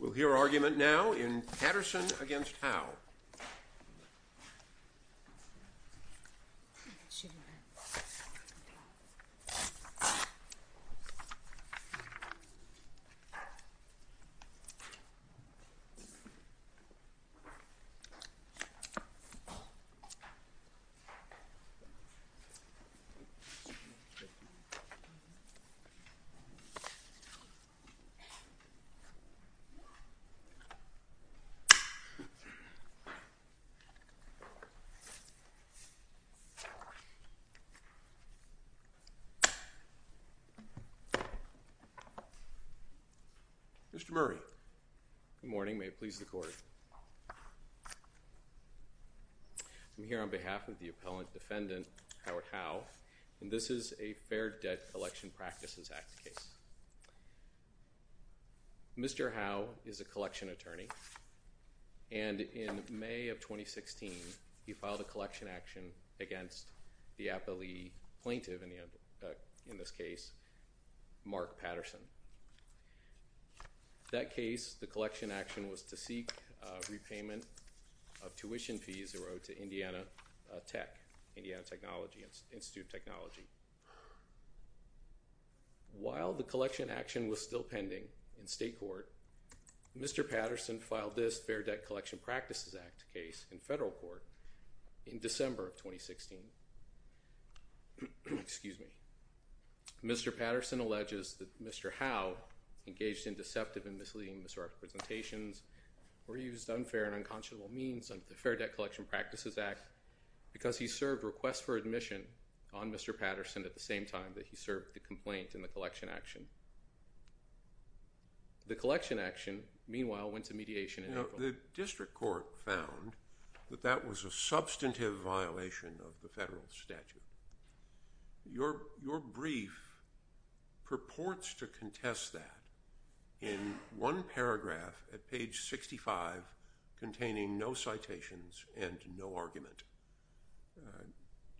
We'll hear argument now in Patterson v. Howe. Mr. Murray. Good morning. May it please the Court. I'm here on behalf of the appellant defendant, Howard Howe, and this is a Fair Debt Collection Practices Act case. Mr. Howe is a collection attorney, and in May of 2016, he filed a collection action against the appellee plaintiff, in this case, Mark Patterson. That case, the collection action was to seek repayment of tuition fees that were owed to Indiana Tech, Indiana Institute of Technology. While the collection action was still pending in state court, Mr. Patterson filed this Fair Debt Collection Practices Act case in federal court in December of 2016. Excuse me. Mr. Patterson alleges that Mr. Howe engaged in deceptive and misleading misrepresentations or used unfair and unconscionable means under the Fair Debt Collection Practices Act because he served request for admission on Mr. Patterson at the same time that he served the complaint in the collection action. The collection action, meanwhile, went to mediation in federal court. The district court found that that was a substantive violation of the federal statute. Your brief purports to contest that in one paragraph at page 65 containing no citations and no argument.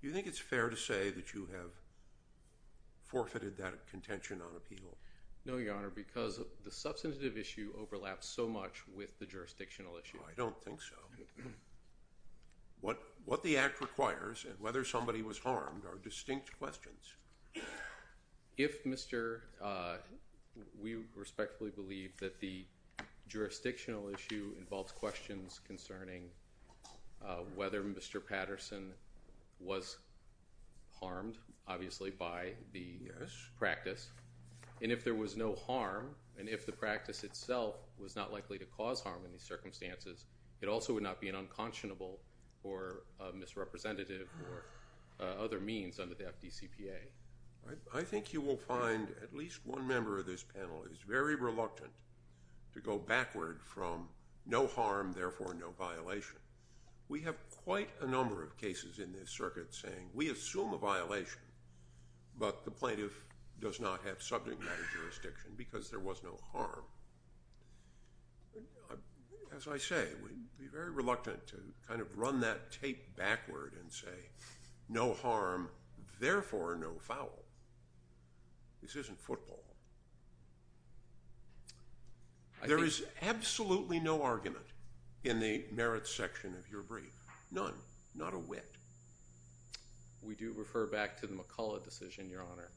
Do you think it's fair to say that you have forfeited that contention on appeal? No, Your Honor, because the substantive issue overlaps so much with the jurisdictional issue. I don't think so. What the act requires and whether somebody was harmed are distinct questions. We respectfully believe that the jurisdictional issue involves questions concerning whether Mr. Patterson was harmed, obviously, by the practice. And if there was no harm and if the practice itself was not likely to cause harm in these circumstances, it also would not be an unconscionable or misrepresentative or other means under the FDCPA. I think you will find at least one member of this panel is very reluctant to go backward from no harm, therefore no violation. We have quite a number of cases in this circuit saying we assume a violation, but the plaintiff does not have subject matter jurisdiction because there was no harm. As I say, we'd be very reluctant to kind of run that tape backward and say no harm, therefore no foul. This isn't football. There is absolutely no argument in the merits section of your brief, none, not a whit. We do refer back to the McCullough decision, Your Honor,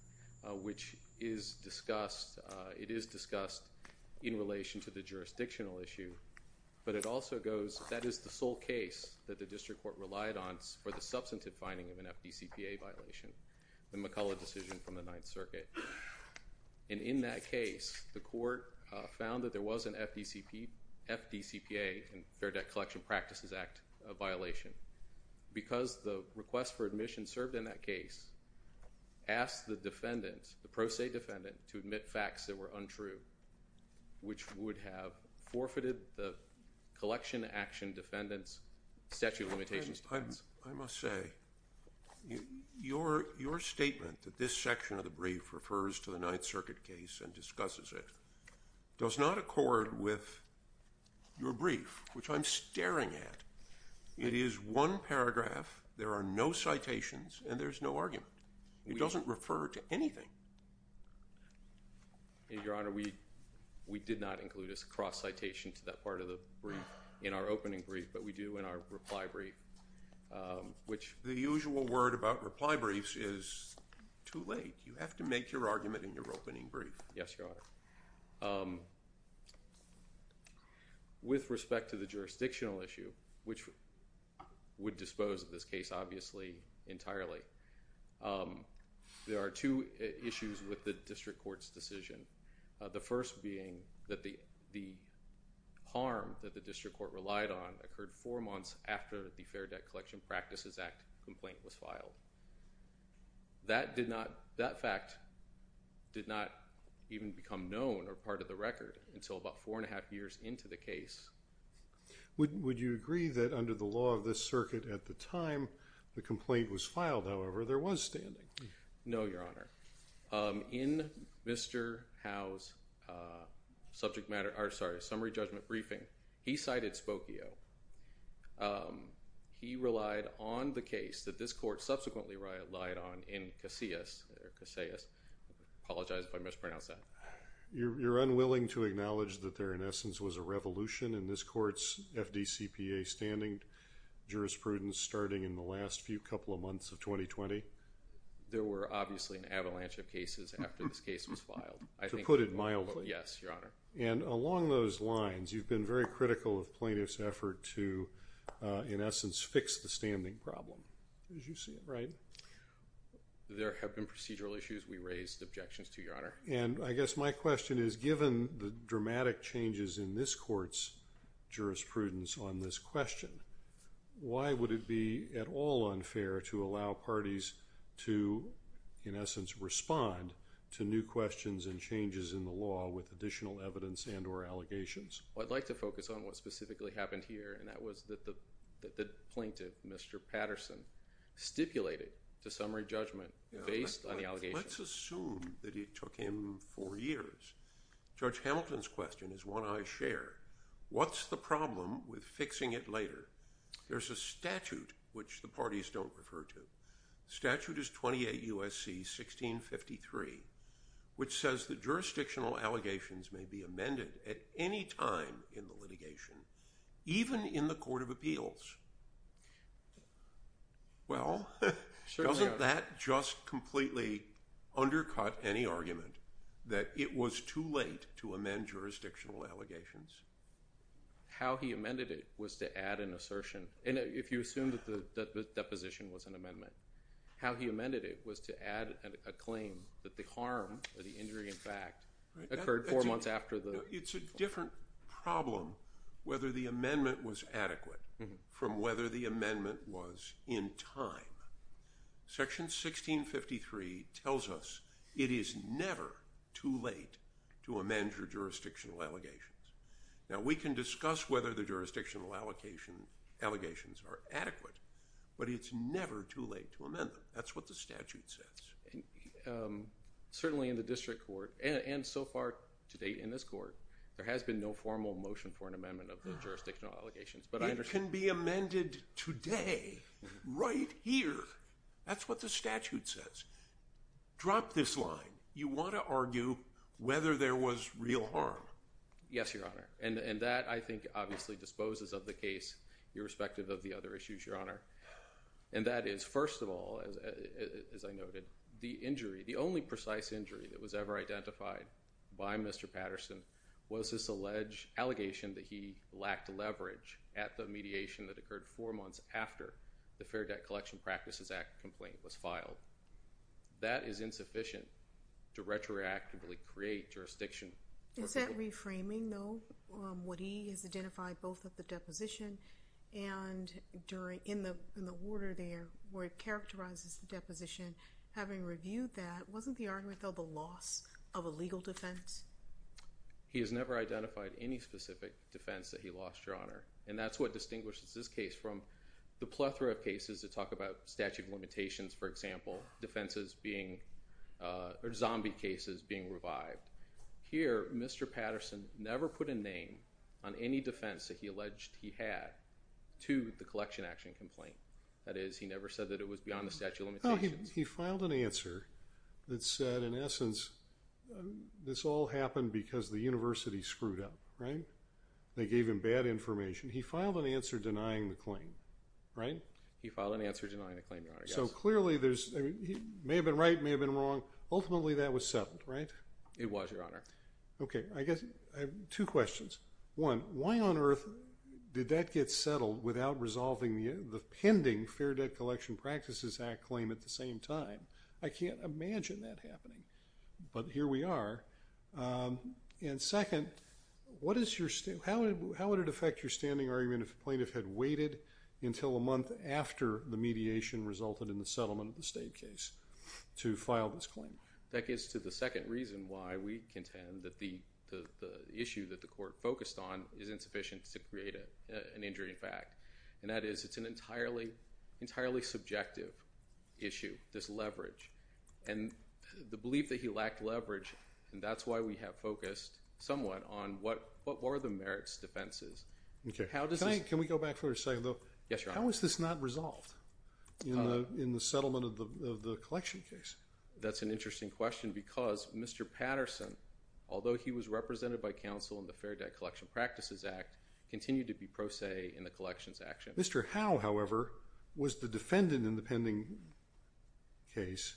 which is discussed. It is discussed in relation to the jurisdictional issue. But it also goes that is the sole case that the district court relied on for the substantive finding of an FDCPA violation, the McCullough decision from the Ninth Circuit. And in that case, the court found that there was an FDCPA and Fair Debt Collection Practices Act violation. Because the request for admission served in that case, asked the defendant, the pro se defendant, to admit facts that were untrue, which would have forfeited the collection action defendant's statute of limitations defense. I must say, your statement that this section of the brief refers to the Ninth Circuit case and discusses it does not accord with your brief, which I'm staring at. It is one paragraph, there are no citations, and there's no argument. It doesn't refer to anything. Your Honor, we did not include a cross citation to that part of the brief in our opening brief, but we do in our reply brief. The usual word about reply briefs is too late. You have to make your argument in your opening brief. Yes, Your Honor. With respect to the jurisdictional issue, which would dispose of this case obviously entirely, there are two issues with the district court's decision. The first being that the harm that the district court relied on occurred four months after the Fair Debt Collection Practices Act complaint was filed. That fact did not even become known or part of the record until about four and a half years into the case. Would you agree that under the law of this circuit at the time the complaint was filed, however, there was standing? No, Your Honor. In Mr. Howe's summary judgment briefing, he cited Spokio. He relied on the case that this court subsequently relied on in Casillas. I apologize if I mispronounced that. You're unwilling to acknowledge that there in essence was a revolution in this court's FDCPA standing jurisprudence starting in the last few couple of months of 2020? There were obviously an avalanche of cases after this case was filed. To put it mildly. Yes, Your Honor. And along those lines, you've been very critical of plaintiffs' effort to, in essence, fix the standing problem, as you see it, right? There have been procedural issues. We raised objections to, Your Honor. And I guess my question is, given the dramatic changes in this court's jurisprudence on this question, why would it be at all unfair to allow parties to, in essence, respond to new questions and changes in the law with additional evidence and or allegations? I'd like to focus on what specifically happened here, and that was that the plaintiff, Mr. Patterson, stipulated the summary judgment based on the allegations. Let's assume that it took him four years. Judge Hamilton's question is one I share. What's the problem with fixing it later? There's a statute, which the parties don't refer to. Statute is 28 U.S.C. 1653, which says that jurisdictional allegations may be amended at any time in the litigation, even in the court of appeals. Well, doesn't that just completely undercut any argument that it was too late to amend jurisdictional allegations? How he amended it was to add an assertion. And if you assume that the deposition was an amendment, how he amended it was to add a claim that the harm or the injury, in fact, occurred four months after the… It's a different problem whether the amendment was adequate from whether the amendment was in time. Section 1653 tells us it is never too late to amend your jurisdictional allegations. Now, we can discuss whether the jurisdictional allegations are adequate, but it's never too late to amend them. That's what the statute says. Certainly in the district court, and so far to date in this court, there has been no formal motion for an amendment of the jurisdictional allegations. It can be amended today, right here. That's what the statute says. Drop this line. You want to argue whether there was real harm. Yes, Your Honor. And that, I think, obviously disposes of the case, irrespective of the other issues, Your Honor. And that is, first of all, as I noted, the injury, the only precise injury that was ever identified by Mr. Patterson was this alleged allegation that he lacked leverage at the mediation that occurred four months after the Fair Debt Collection Practices Act complaint was filed. That is insufficient to retroactively create jurisdiction. Is that reframing, though, what he has identified both at the deposition and during, in the order there where it characterizes the deposition? Having reviewed that, wasn't the argument, though, the loss of a legal defense? He has never identified any specific defense that he lost, Your Honor. And that's what distinguishes this case from the plethora of cases that talk about statute limitations, for example, defenses being, or zombie cases being revived. Here, Mr. Patterson never put a name on any defense that he alleged he had to the collection action complaint. That is, he never said that it was beyond the statute of limitations. He filed an answer that said, in essence, this all happened because the university screwed up, right? They gave him bad information. He filed an answer denying the claim, right? He filed an answer denying the claim, Your Honor, yes. So, clearly, there's, may have been right, may have been wrong. Ultimately, that was settled, right? It was, Your Honor. Okay. I guess I have two questions. One, why on earth did that get settled without resolving the pending Fair Debt Collection Practices Act claim at the same time? I can't imagine that happening. But here we are. And second, what is your, how would it affect your standing argument if a plaintiff had waited until a month after the mediation resulted in the settlement of the state case to file this claim? That gets to the second reason why we contend that the issue that the court focused on is insufficient to create an injury in fact. And that is, it's an entirely, entirely subjective issue, this leverage. And the belief that he lacked leverage, and that's why we have focused somewhat on what were the merits defenses. Okay. Can I, can we go back for a second, though? Yes, Your Honor. How is this not resolved in the settlement of the collection case? That's an interesting question because Mr. Patterson, although he was represented by counsel in the Fair Debt Collection Practices Act, continued to be pro se in the collections action. Mr. Howe, however, was the defendant in the pending case,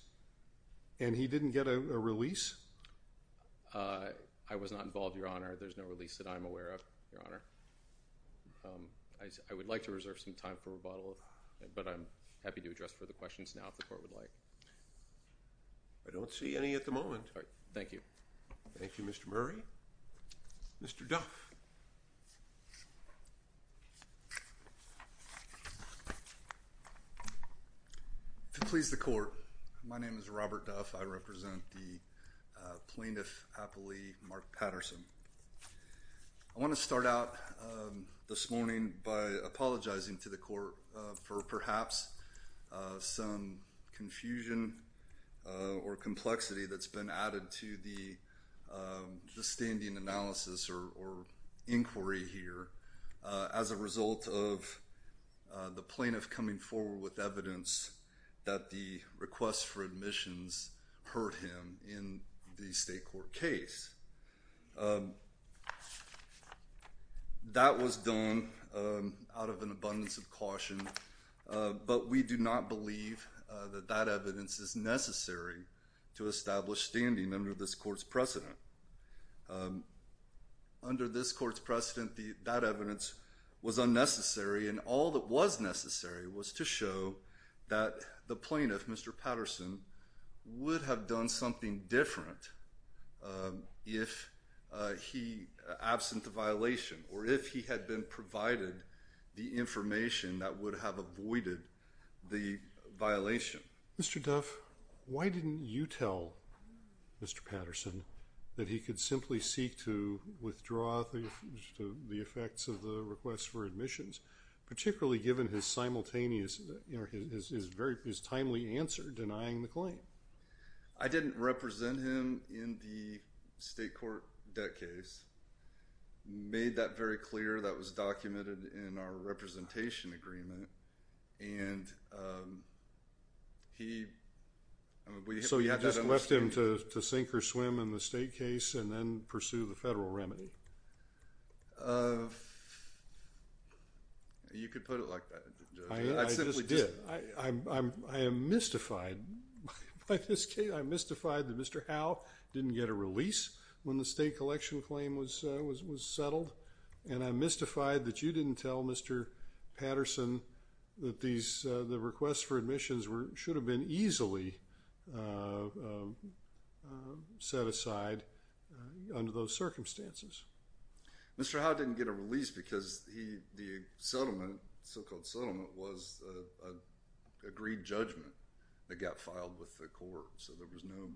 and he didn't get a release? I was not involved, Your Honor. There's no release that I'm aware of, Your Honor. I would like to reserve some time for rebuttal, but I'm happy to address further questions now if the court would like. I don't see any at the moment. Thank you. Thank you, Mr. Murray. Mr. Duff. To please the court, my name is Robert Duff. I represent the plaintiff, Appley Mark Patterson. I want to start out this morning by apologizing to the court for perhaps some confusion or complexity that's been added to the standing analysis or inquiry here as a result of the plaintiff coming forward with evidence that the request for admissions hurt him in the state court case. That was done out of an abundance of caution, but we do not believe that that evidence is necessary to establish standing under this court's precedent. Under this court's precedent, that evidence was unnecessary, and all that was necessary was to show that the plaintiff, Mr. Patterson, would have done something different if he, absent the violation, or if he had been provided the information that would have avoided the violation. Mr. Duff, why didn't you tell Mr. Patterson that he could simply seek to withdraw the effects of the request for admissions, particularly given his simultaneous, his timely answer denying the claim? I didn't represent him in the state court debt case. Made that very clear. That was documented in our representation agreement. And he... So you just left him to sink or swim in the state case and then pursue the federal remedy? You could put it like that, Judge. I simply did. I am mystified by this case. I'm mystified that Mr. Howe didn't get a release when the state collection claim was settled, and I'm mystified that you didn't tell Mr. Patterson that the requests for admissions should have been easily set aside under those circumstances. Mr. Howe didn't get a release because the settlement, so-called settlement, was an agreed judgment that got filed with the court, so there was no...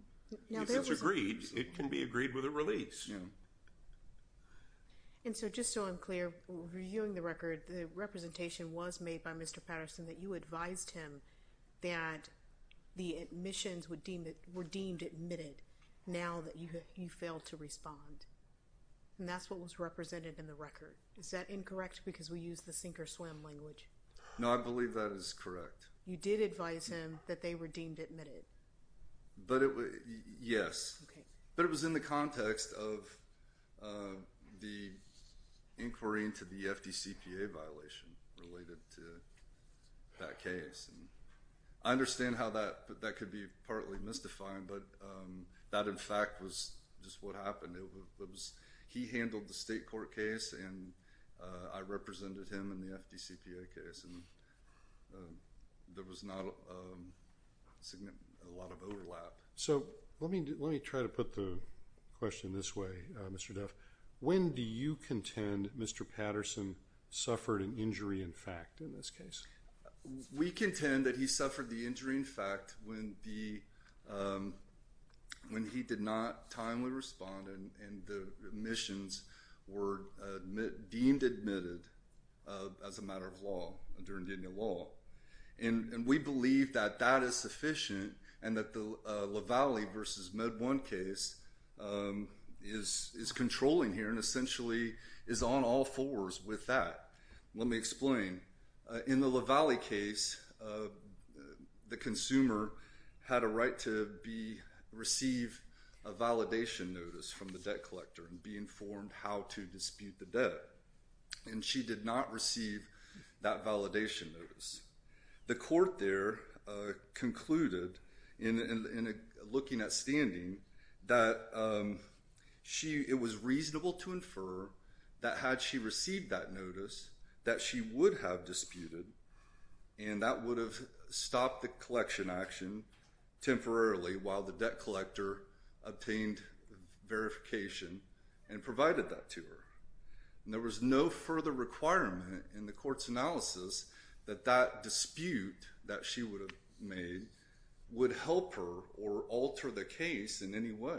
If it's agreed, it can be agreed with a release. Yeah. And so just so I'm clear, reviewing the record, the representation was made by Mr. Patterson that you advised him that the admissions were deemed admitted now that you failed to respond. And that's what was represented in the record. Is that incorrect because we used the sink or swim language? No, I believe that is correct. You did advise him that they were deemed admitted. But it was... Yes. Okay. But it was in the context of the inquiry into the FDCPA violation related to that case. I understand how that could be partly mystified, but that, in fact, was just what happened. He handled the state court case, and I represented him in the FDCPA case, and there was not a lot of overlap. So let me try to put the question this way, Mr. Duff. When do you contend Mr. Patterson suffered an injury in fact in this case? We contend that he suffered the injury in fact when he did not timely respond and the admissions were deemed admitted as a matter of law, under Indiana law. And we believe that that is sufficient and that the LaValle versus MedOne case is controlling here and essentially is on all fours with that. Let me explain. In the LaValle case, the consumer had a right to receive a validation notice from the debt collector and be informed how to dispute the debt. And she did not receive that validation notice. The court there concluded in looking at standing that it was reasonable to infer that had she received that notice that she would have disputed, and that would have stopped the collection action temporarily while the debt collector obtained verification and provided that to her. And there was no further requirement in the court's analysis that that dispute that she would have made would help her or alter the case in any way.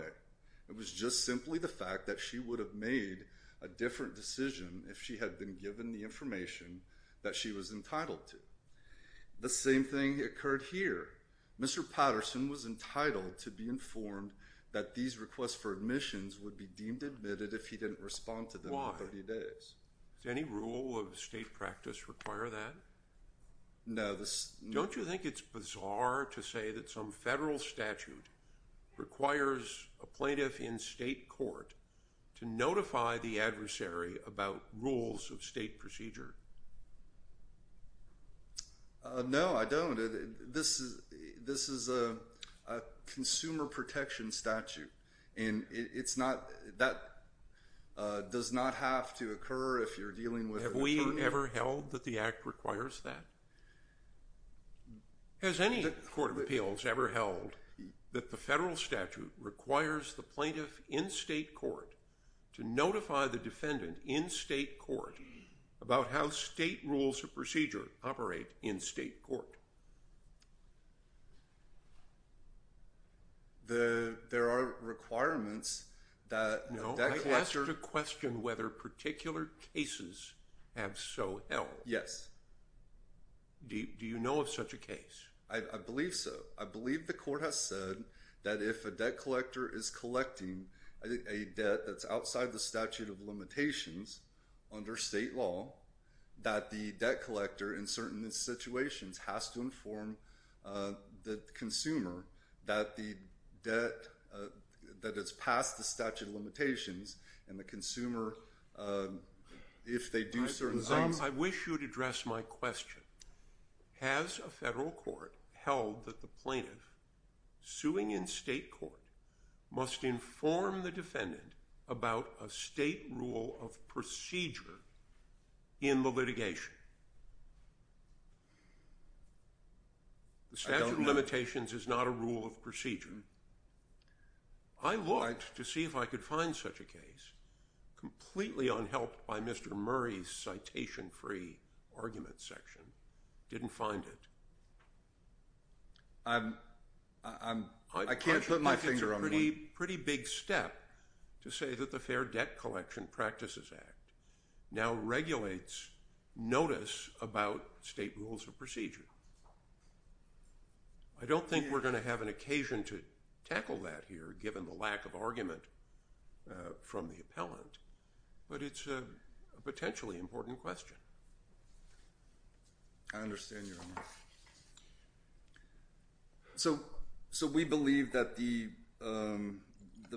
It was just simply the fact that she would have made a different decision if she had been given the information that she was entitled to. The same thing occurred here. Mr. Patterson was entitled to be informed that these requests for admissions would be deemed admitted if he didn't respond to them in 30 days. Why? Does any rule of state practice require that? No. Don't you think it's bizarre to say that some federal statute requires a plaintiff in state court to notify the adversary about rules of state procedure? No, I don't. This is a consumer protection statute, and that does not have to occur if you're dealing with an attorney. Have we ever held that the Act requires that? Has any court of appeals ever held that the federal statute requires the plaintiff in state court to notify the defendant in state court about how state rules of procedure operate in state court? There are requirements that the debt collector— No, I asked a question whether particular cases have so held. Yes. Do you know of such a case? I believe so. I believe the court has said that if a debt collector is collecting a debt that's outside the statute of limitations under state law, that the debt collector in certain situations has to inform the consumer that the debt that has passed the statute of limitations and the consumer, if they do certain things— I wish you would address my question. Has a federal court held that the plaintiff suing in state court must inform the defendant about a state rule of procedure in the litigation? I don't know. The statute of limitations is not a rule of procedure. I looked to see if I could find such a case. Completely unhelped by Mr. Murray's citation-free argument section, didn't find it. I can't put my finger on it. to say that the Fair Debt Collection Practices Act now regulates notice about state rules of procedure. I don't think we're going to have an occasion to tackle that here, given the lack of argument from the appellant, but it's a potentially important question. I understand your remarks. We believe that the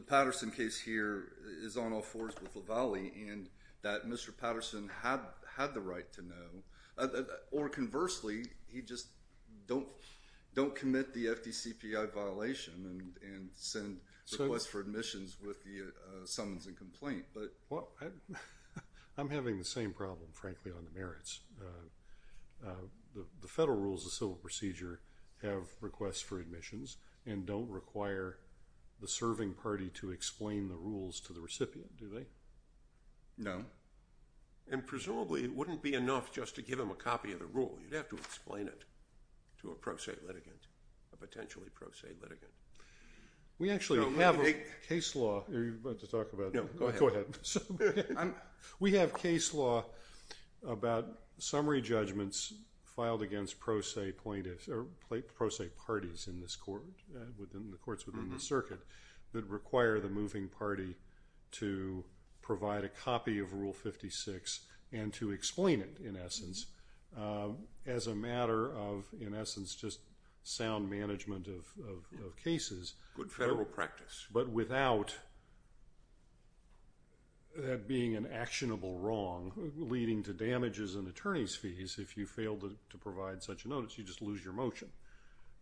Patterson case here is on all fours with LaValle and that Mr. Patterson had the right to know. Or conversely, he just don't commit the FDCPI violation and send requests for admissions with the summons and complaint. I'm having the same problem, frankly, on the merits. The federal rules of civil procedure have requests for admissions and don't require the serving party to explain the rules to the recipient, do they? No. Presumably, it wouldn't be enough just to give him a copy of the rule. You'd have to explain it to a pro se litigant, a potentially pro se litigant. We actually have a case law. You're about to talk about it. Go ahead. We have case law about summary judgments filed against pro se parties in the courts within the circuit that require the moving party to provide a copy of Rule 56 and to explain it, in essence, as a matter of, in essence, just sound management of cases. Good federal practice. But without that being an actionable wrong, leading to damages and attorney's fees, if you fail to provide such a notice, you just lose your motion.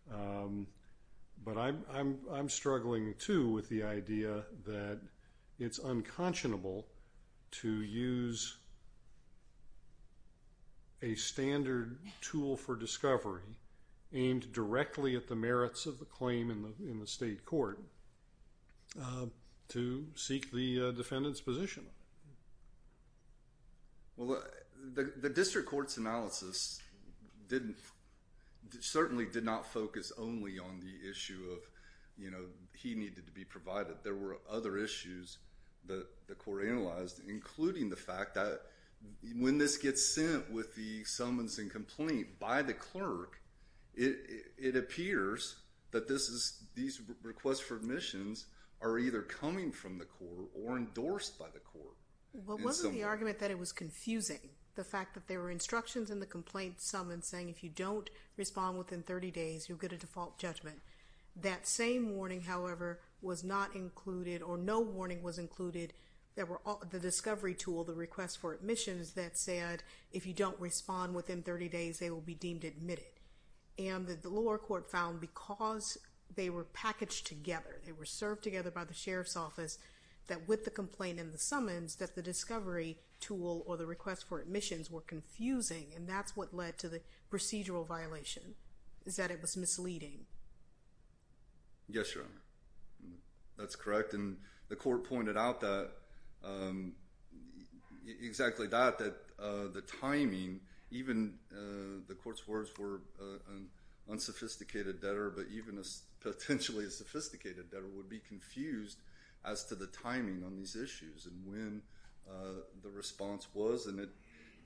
But I'm struggling, too, with the idea that it's unconscionable to use a standard tool for discovery aimed directly at the merits of the claim in the state court to seek the defendant's position. Well, the district court's analysis certainly did not focus only on the issue of, you know, he needed to be provided. There were other issues that the court analyzed, including the fact that when this gets sent with the summons and complaint by the clerk, it appears that this is, these requests for admissions are either coming from the court or endorsed by the court. But wasn't the argument that it was confusing, the fact that there were instructions in the complaint summons saying if you don't respond within 30 days, you'll get a default judgment? That same warning, however, was not included, or no warning was included, that were the discovery tool, the request for admissions, that said if you don't respond within 30 days, they will be deemed admitted. And the lower court found because they were packaged together, they were served together by the sheriff's office, that with the complaint and the summons, that the discovery tool or the request for admissions were confusing. And that's what led to the procedural violation, is that it was misleading. Yes, Your Honor. That's correct, and the court pointed out that, exactly that, that the timing, even the court's words were unsophisticated debtor, but even potentially a sophisticated debtor would be confused as to the timing on these issues. And when the response was, and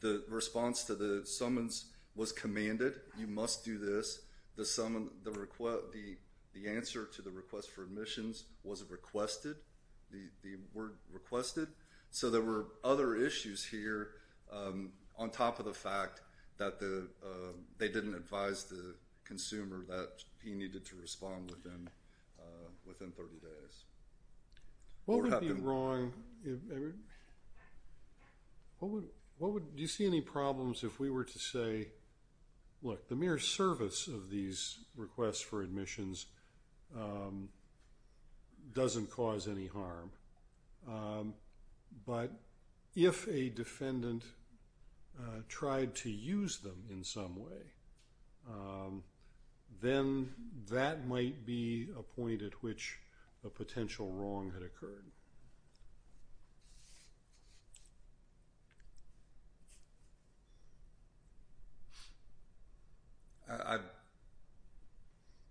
the response to the summons was commanded, you must do this, the answer to the request for admissions was requested, the word requested. So there were other issues here on top of the fact that they didn't advise the consumer that he needed to respond within 30 days. What would be wrong, do you see any problems if we were to say, look, the mere service of these requests for admissions doesn't cause any harm, but if a defendant tried to use them in some way, then that might be a point at which a potential wrong had occurred.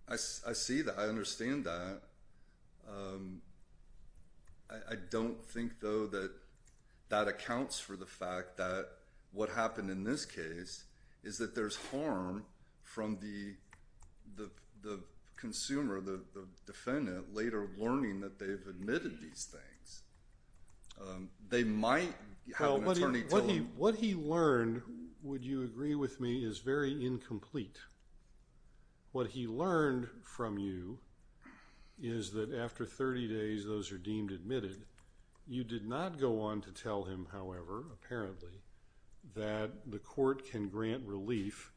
I see that, I understand that. I don't think, though, that that accounts for the fact that what happened in this case is that there's harm from the consumer, the defendant, later learning that they've admitted these things. They might have an attorney tell them. Well, what he learned, would you agree with me, is very incomplete. What he learned from you is that after 30 days, those are deemed admitted. You did not go on to tell him, however, apparently, that the court can grant relief,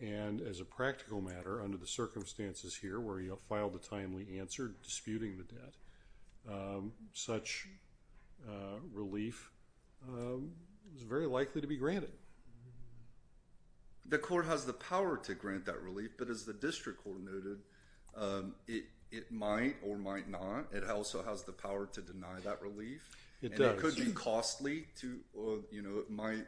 and as a practical matter, under the circumstances here where he filed a timely answer disputing the debt, such relief is very likely to be granted. The court has the power to grant that relief, but as the district court noted, it might or might not. It also has the power to deny that relief. It does. It could be costly. It might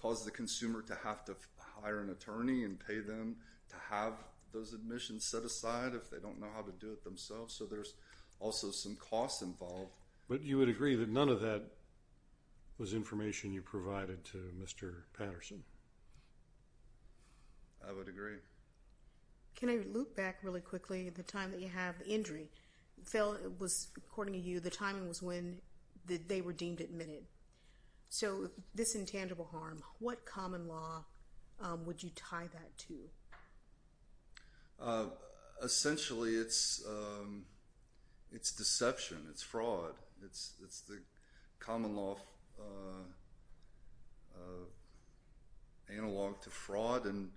cause the consumer to have to hire an attorney and pay them to have those admissions set aside if they don't know how to do it themselves, so there's also some costs involved. But you would agree that none of that was information you provided to Mr. Patterson? I would agree. Can I loop back really quickly, the time that you have the injury? Phil, according to you, the timing was when they were deemed admitted, so this intangible harm, what common law would you tie that to? Essentially, it's deception. It's fraud. It's the common law analog to fraud and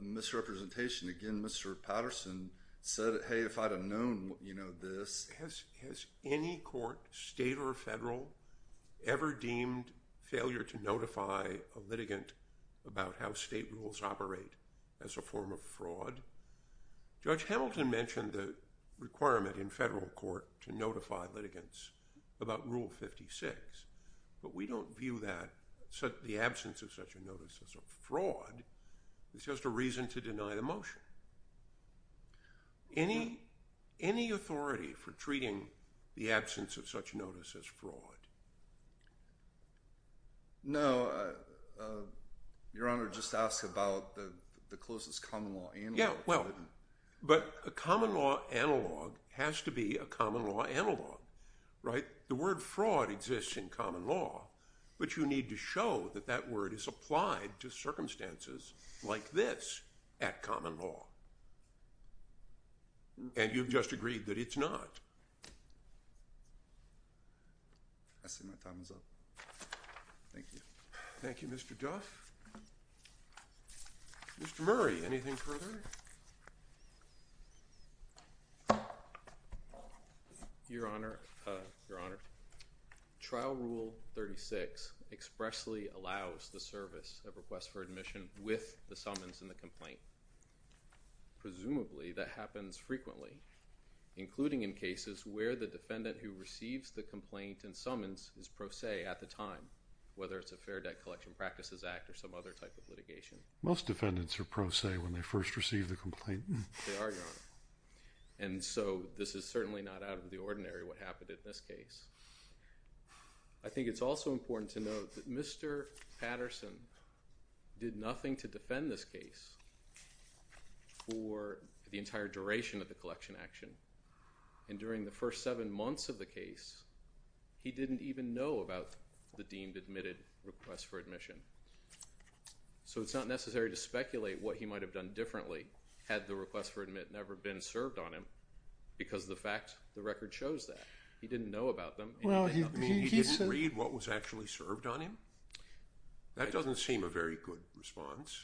misrepresentation. Again, Mr. Patterson said, hey, if I'd have known this. Has any court, state or federal, ever deemed failure to notify a litigant about how state rules operate as a form of fraud? Judge Hamilton mentioned the requirement in federal court to notify litigants about Rule 56, but we don't view the absence of such a notice as a fraud. It's just a reason to deny the motion. Any authority for treating the absence of such notice as fraud? No. Your Honor, just ask about the closest common law analog. Yeah, well, but a common law analog has to be a common law analog, right? The word fraud exists in common law, but you need to show that that word is applied to circumstances like this at common law. And you've just agreed that it's not. I see my time is up. Thank you. Thank you, Mr. Duff. Mr. Murray, anything further? Your Honor, your Honor, Trial Rule 36 expressly allows the service of request for admission with the summons and the complaint. Presumably, that happens frequently, including in cases where the defendant who receives the complaint and summons is pro se at the time, whether it's a Fair Debt Collection Practices Act or some other type of litigation. Most defendants are pro se when they first receive the complaint. They are, Your Honor. And so this is certainly not out of the ordinary what happened in this case. I think it's also important to note that Mr. Patterson did nothing to defend this case for the entire duration of the collection action. And during the first seven months of the case, he didn't even know about the deemed admitted request for admission. So it's not necessary to speculate what he might have done differently had the request for admit never been served on him because of the fact the record shows that. He didn't know about them. He didn't read what was actually served on him? That doesn't seem a very good response.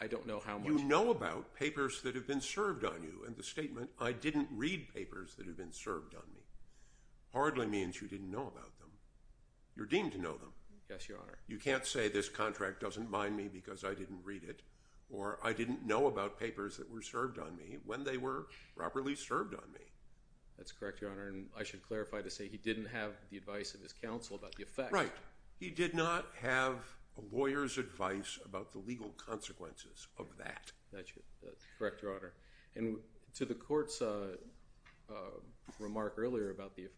I don't know how much. You know about papers that have been served on you, and the statement, I didn't read papers that have been served on me, hardly means you didn't know about them. You're deemed to know them. Yes, Your Honor. You can't say this contract doesn't bind me because I didn't read it or I didn't know about papers that were served on me when they were properly served on me. That's correct, Your Honor. And I should clarify to say he didn't have the advice of his counsel about the effect. Right. He did not have a lawyer's advice about the legal consequences of that. That's correct, Your Honor. And to the court's remark earlier about the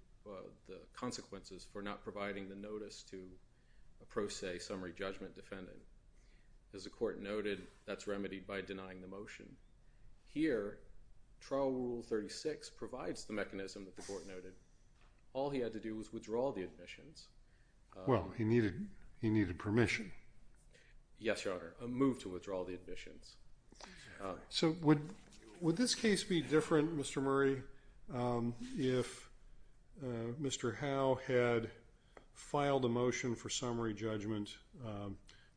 consequences for not providing the notice to a pro se summary judgment defendant, as the court noted, that's remedied by denying the motion. Here, trial rule 36 provides the mechanism that the court noted. All he had to do was withdraw the admissions. Well, he needed permission. Yes, Your Honor. A move to withdraw the admissions. So, would this case be different, Mr. Murray, if Mr. Howe had filed a motion for summary judgment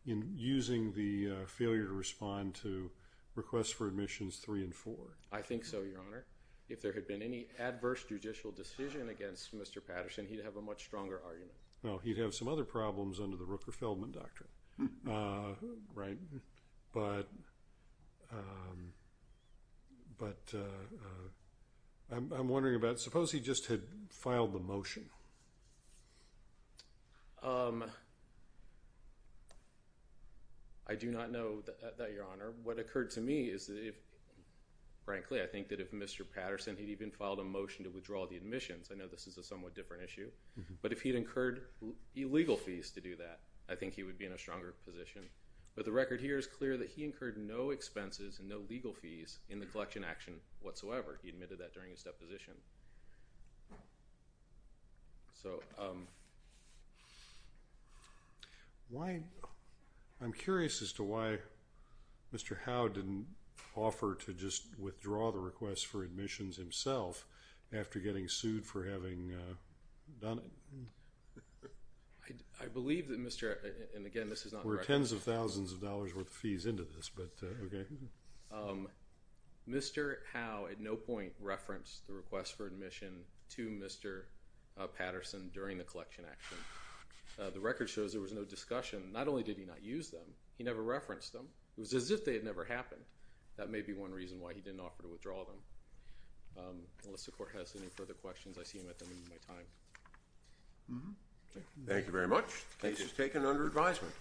in using the failure to respond to requests for admissions three and four? I think so, Your Honor. If there had been any adverse judicial decision against Mr. Patterson, he'd have a much stronger argument. Well, he'd have some other problems under the Rooker-Feldman Doctrine, right? But I'm wondering about, suppose he just had filed the motion. I do not know that, Your Honor. What occurred to me is, frankly, I think that if Mr. Patterson had even filed a motion to withdraw the admissions, I know this is a somewhat different issue, but if he had incurred illegal fees to do that, I think he would be in a stronger position. But the record here is clear that he incurred no expenses and no legal fees in the collection action whatsoever. He admitted that during his deposition. I'm curious as to why Mr. Howe didn't offer to just withdraw the requests for admissions himself after getting sued for having done it. I believe that Mr., and again, this is not a record. There were tens of thousands of dollars worth of fees into this, but okay. Mr. Howe at no point referenced the requests for admission to Mr. Patterson during the collection action. The record shows there was no discussion. Not only did he not use them, he never referenced them. It was as if they had never happened. That may be one reason why he didn't offer to withdraw them. Unless the Court has any further questions, I see him at the end of my time. Thank you very much. Case is taken under advisement.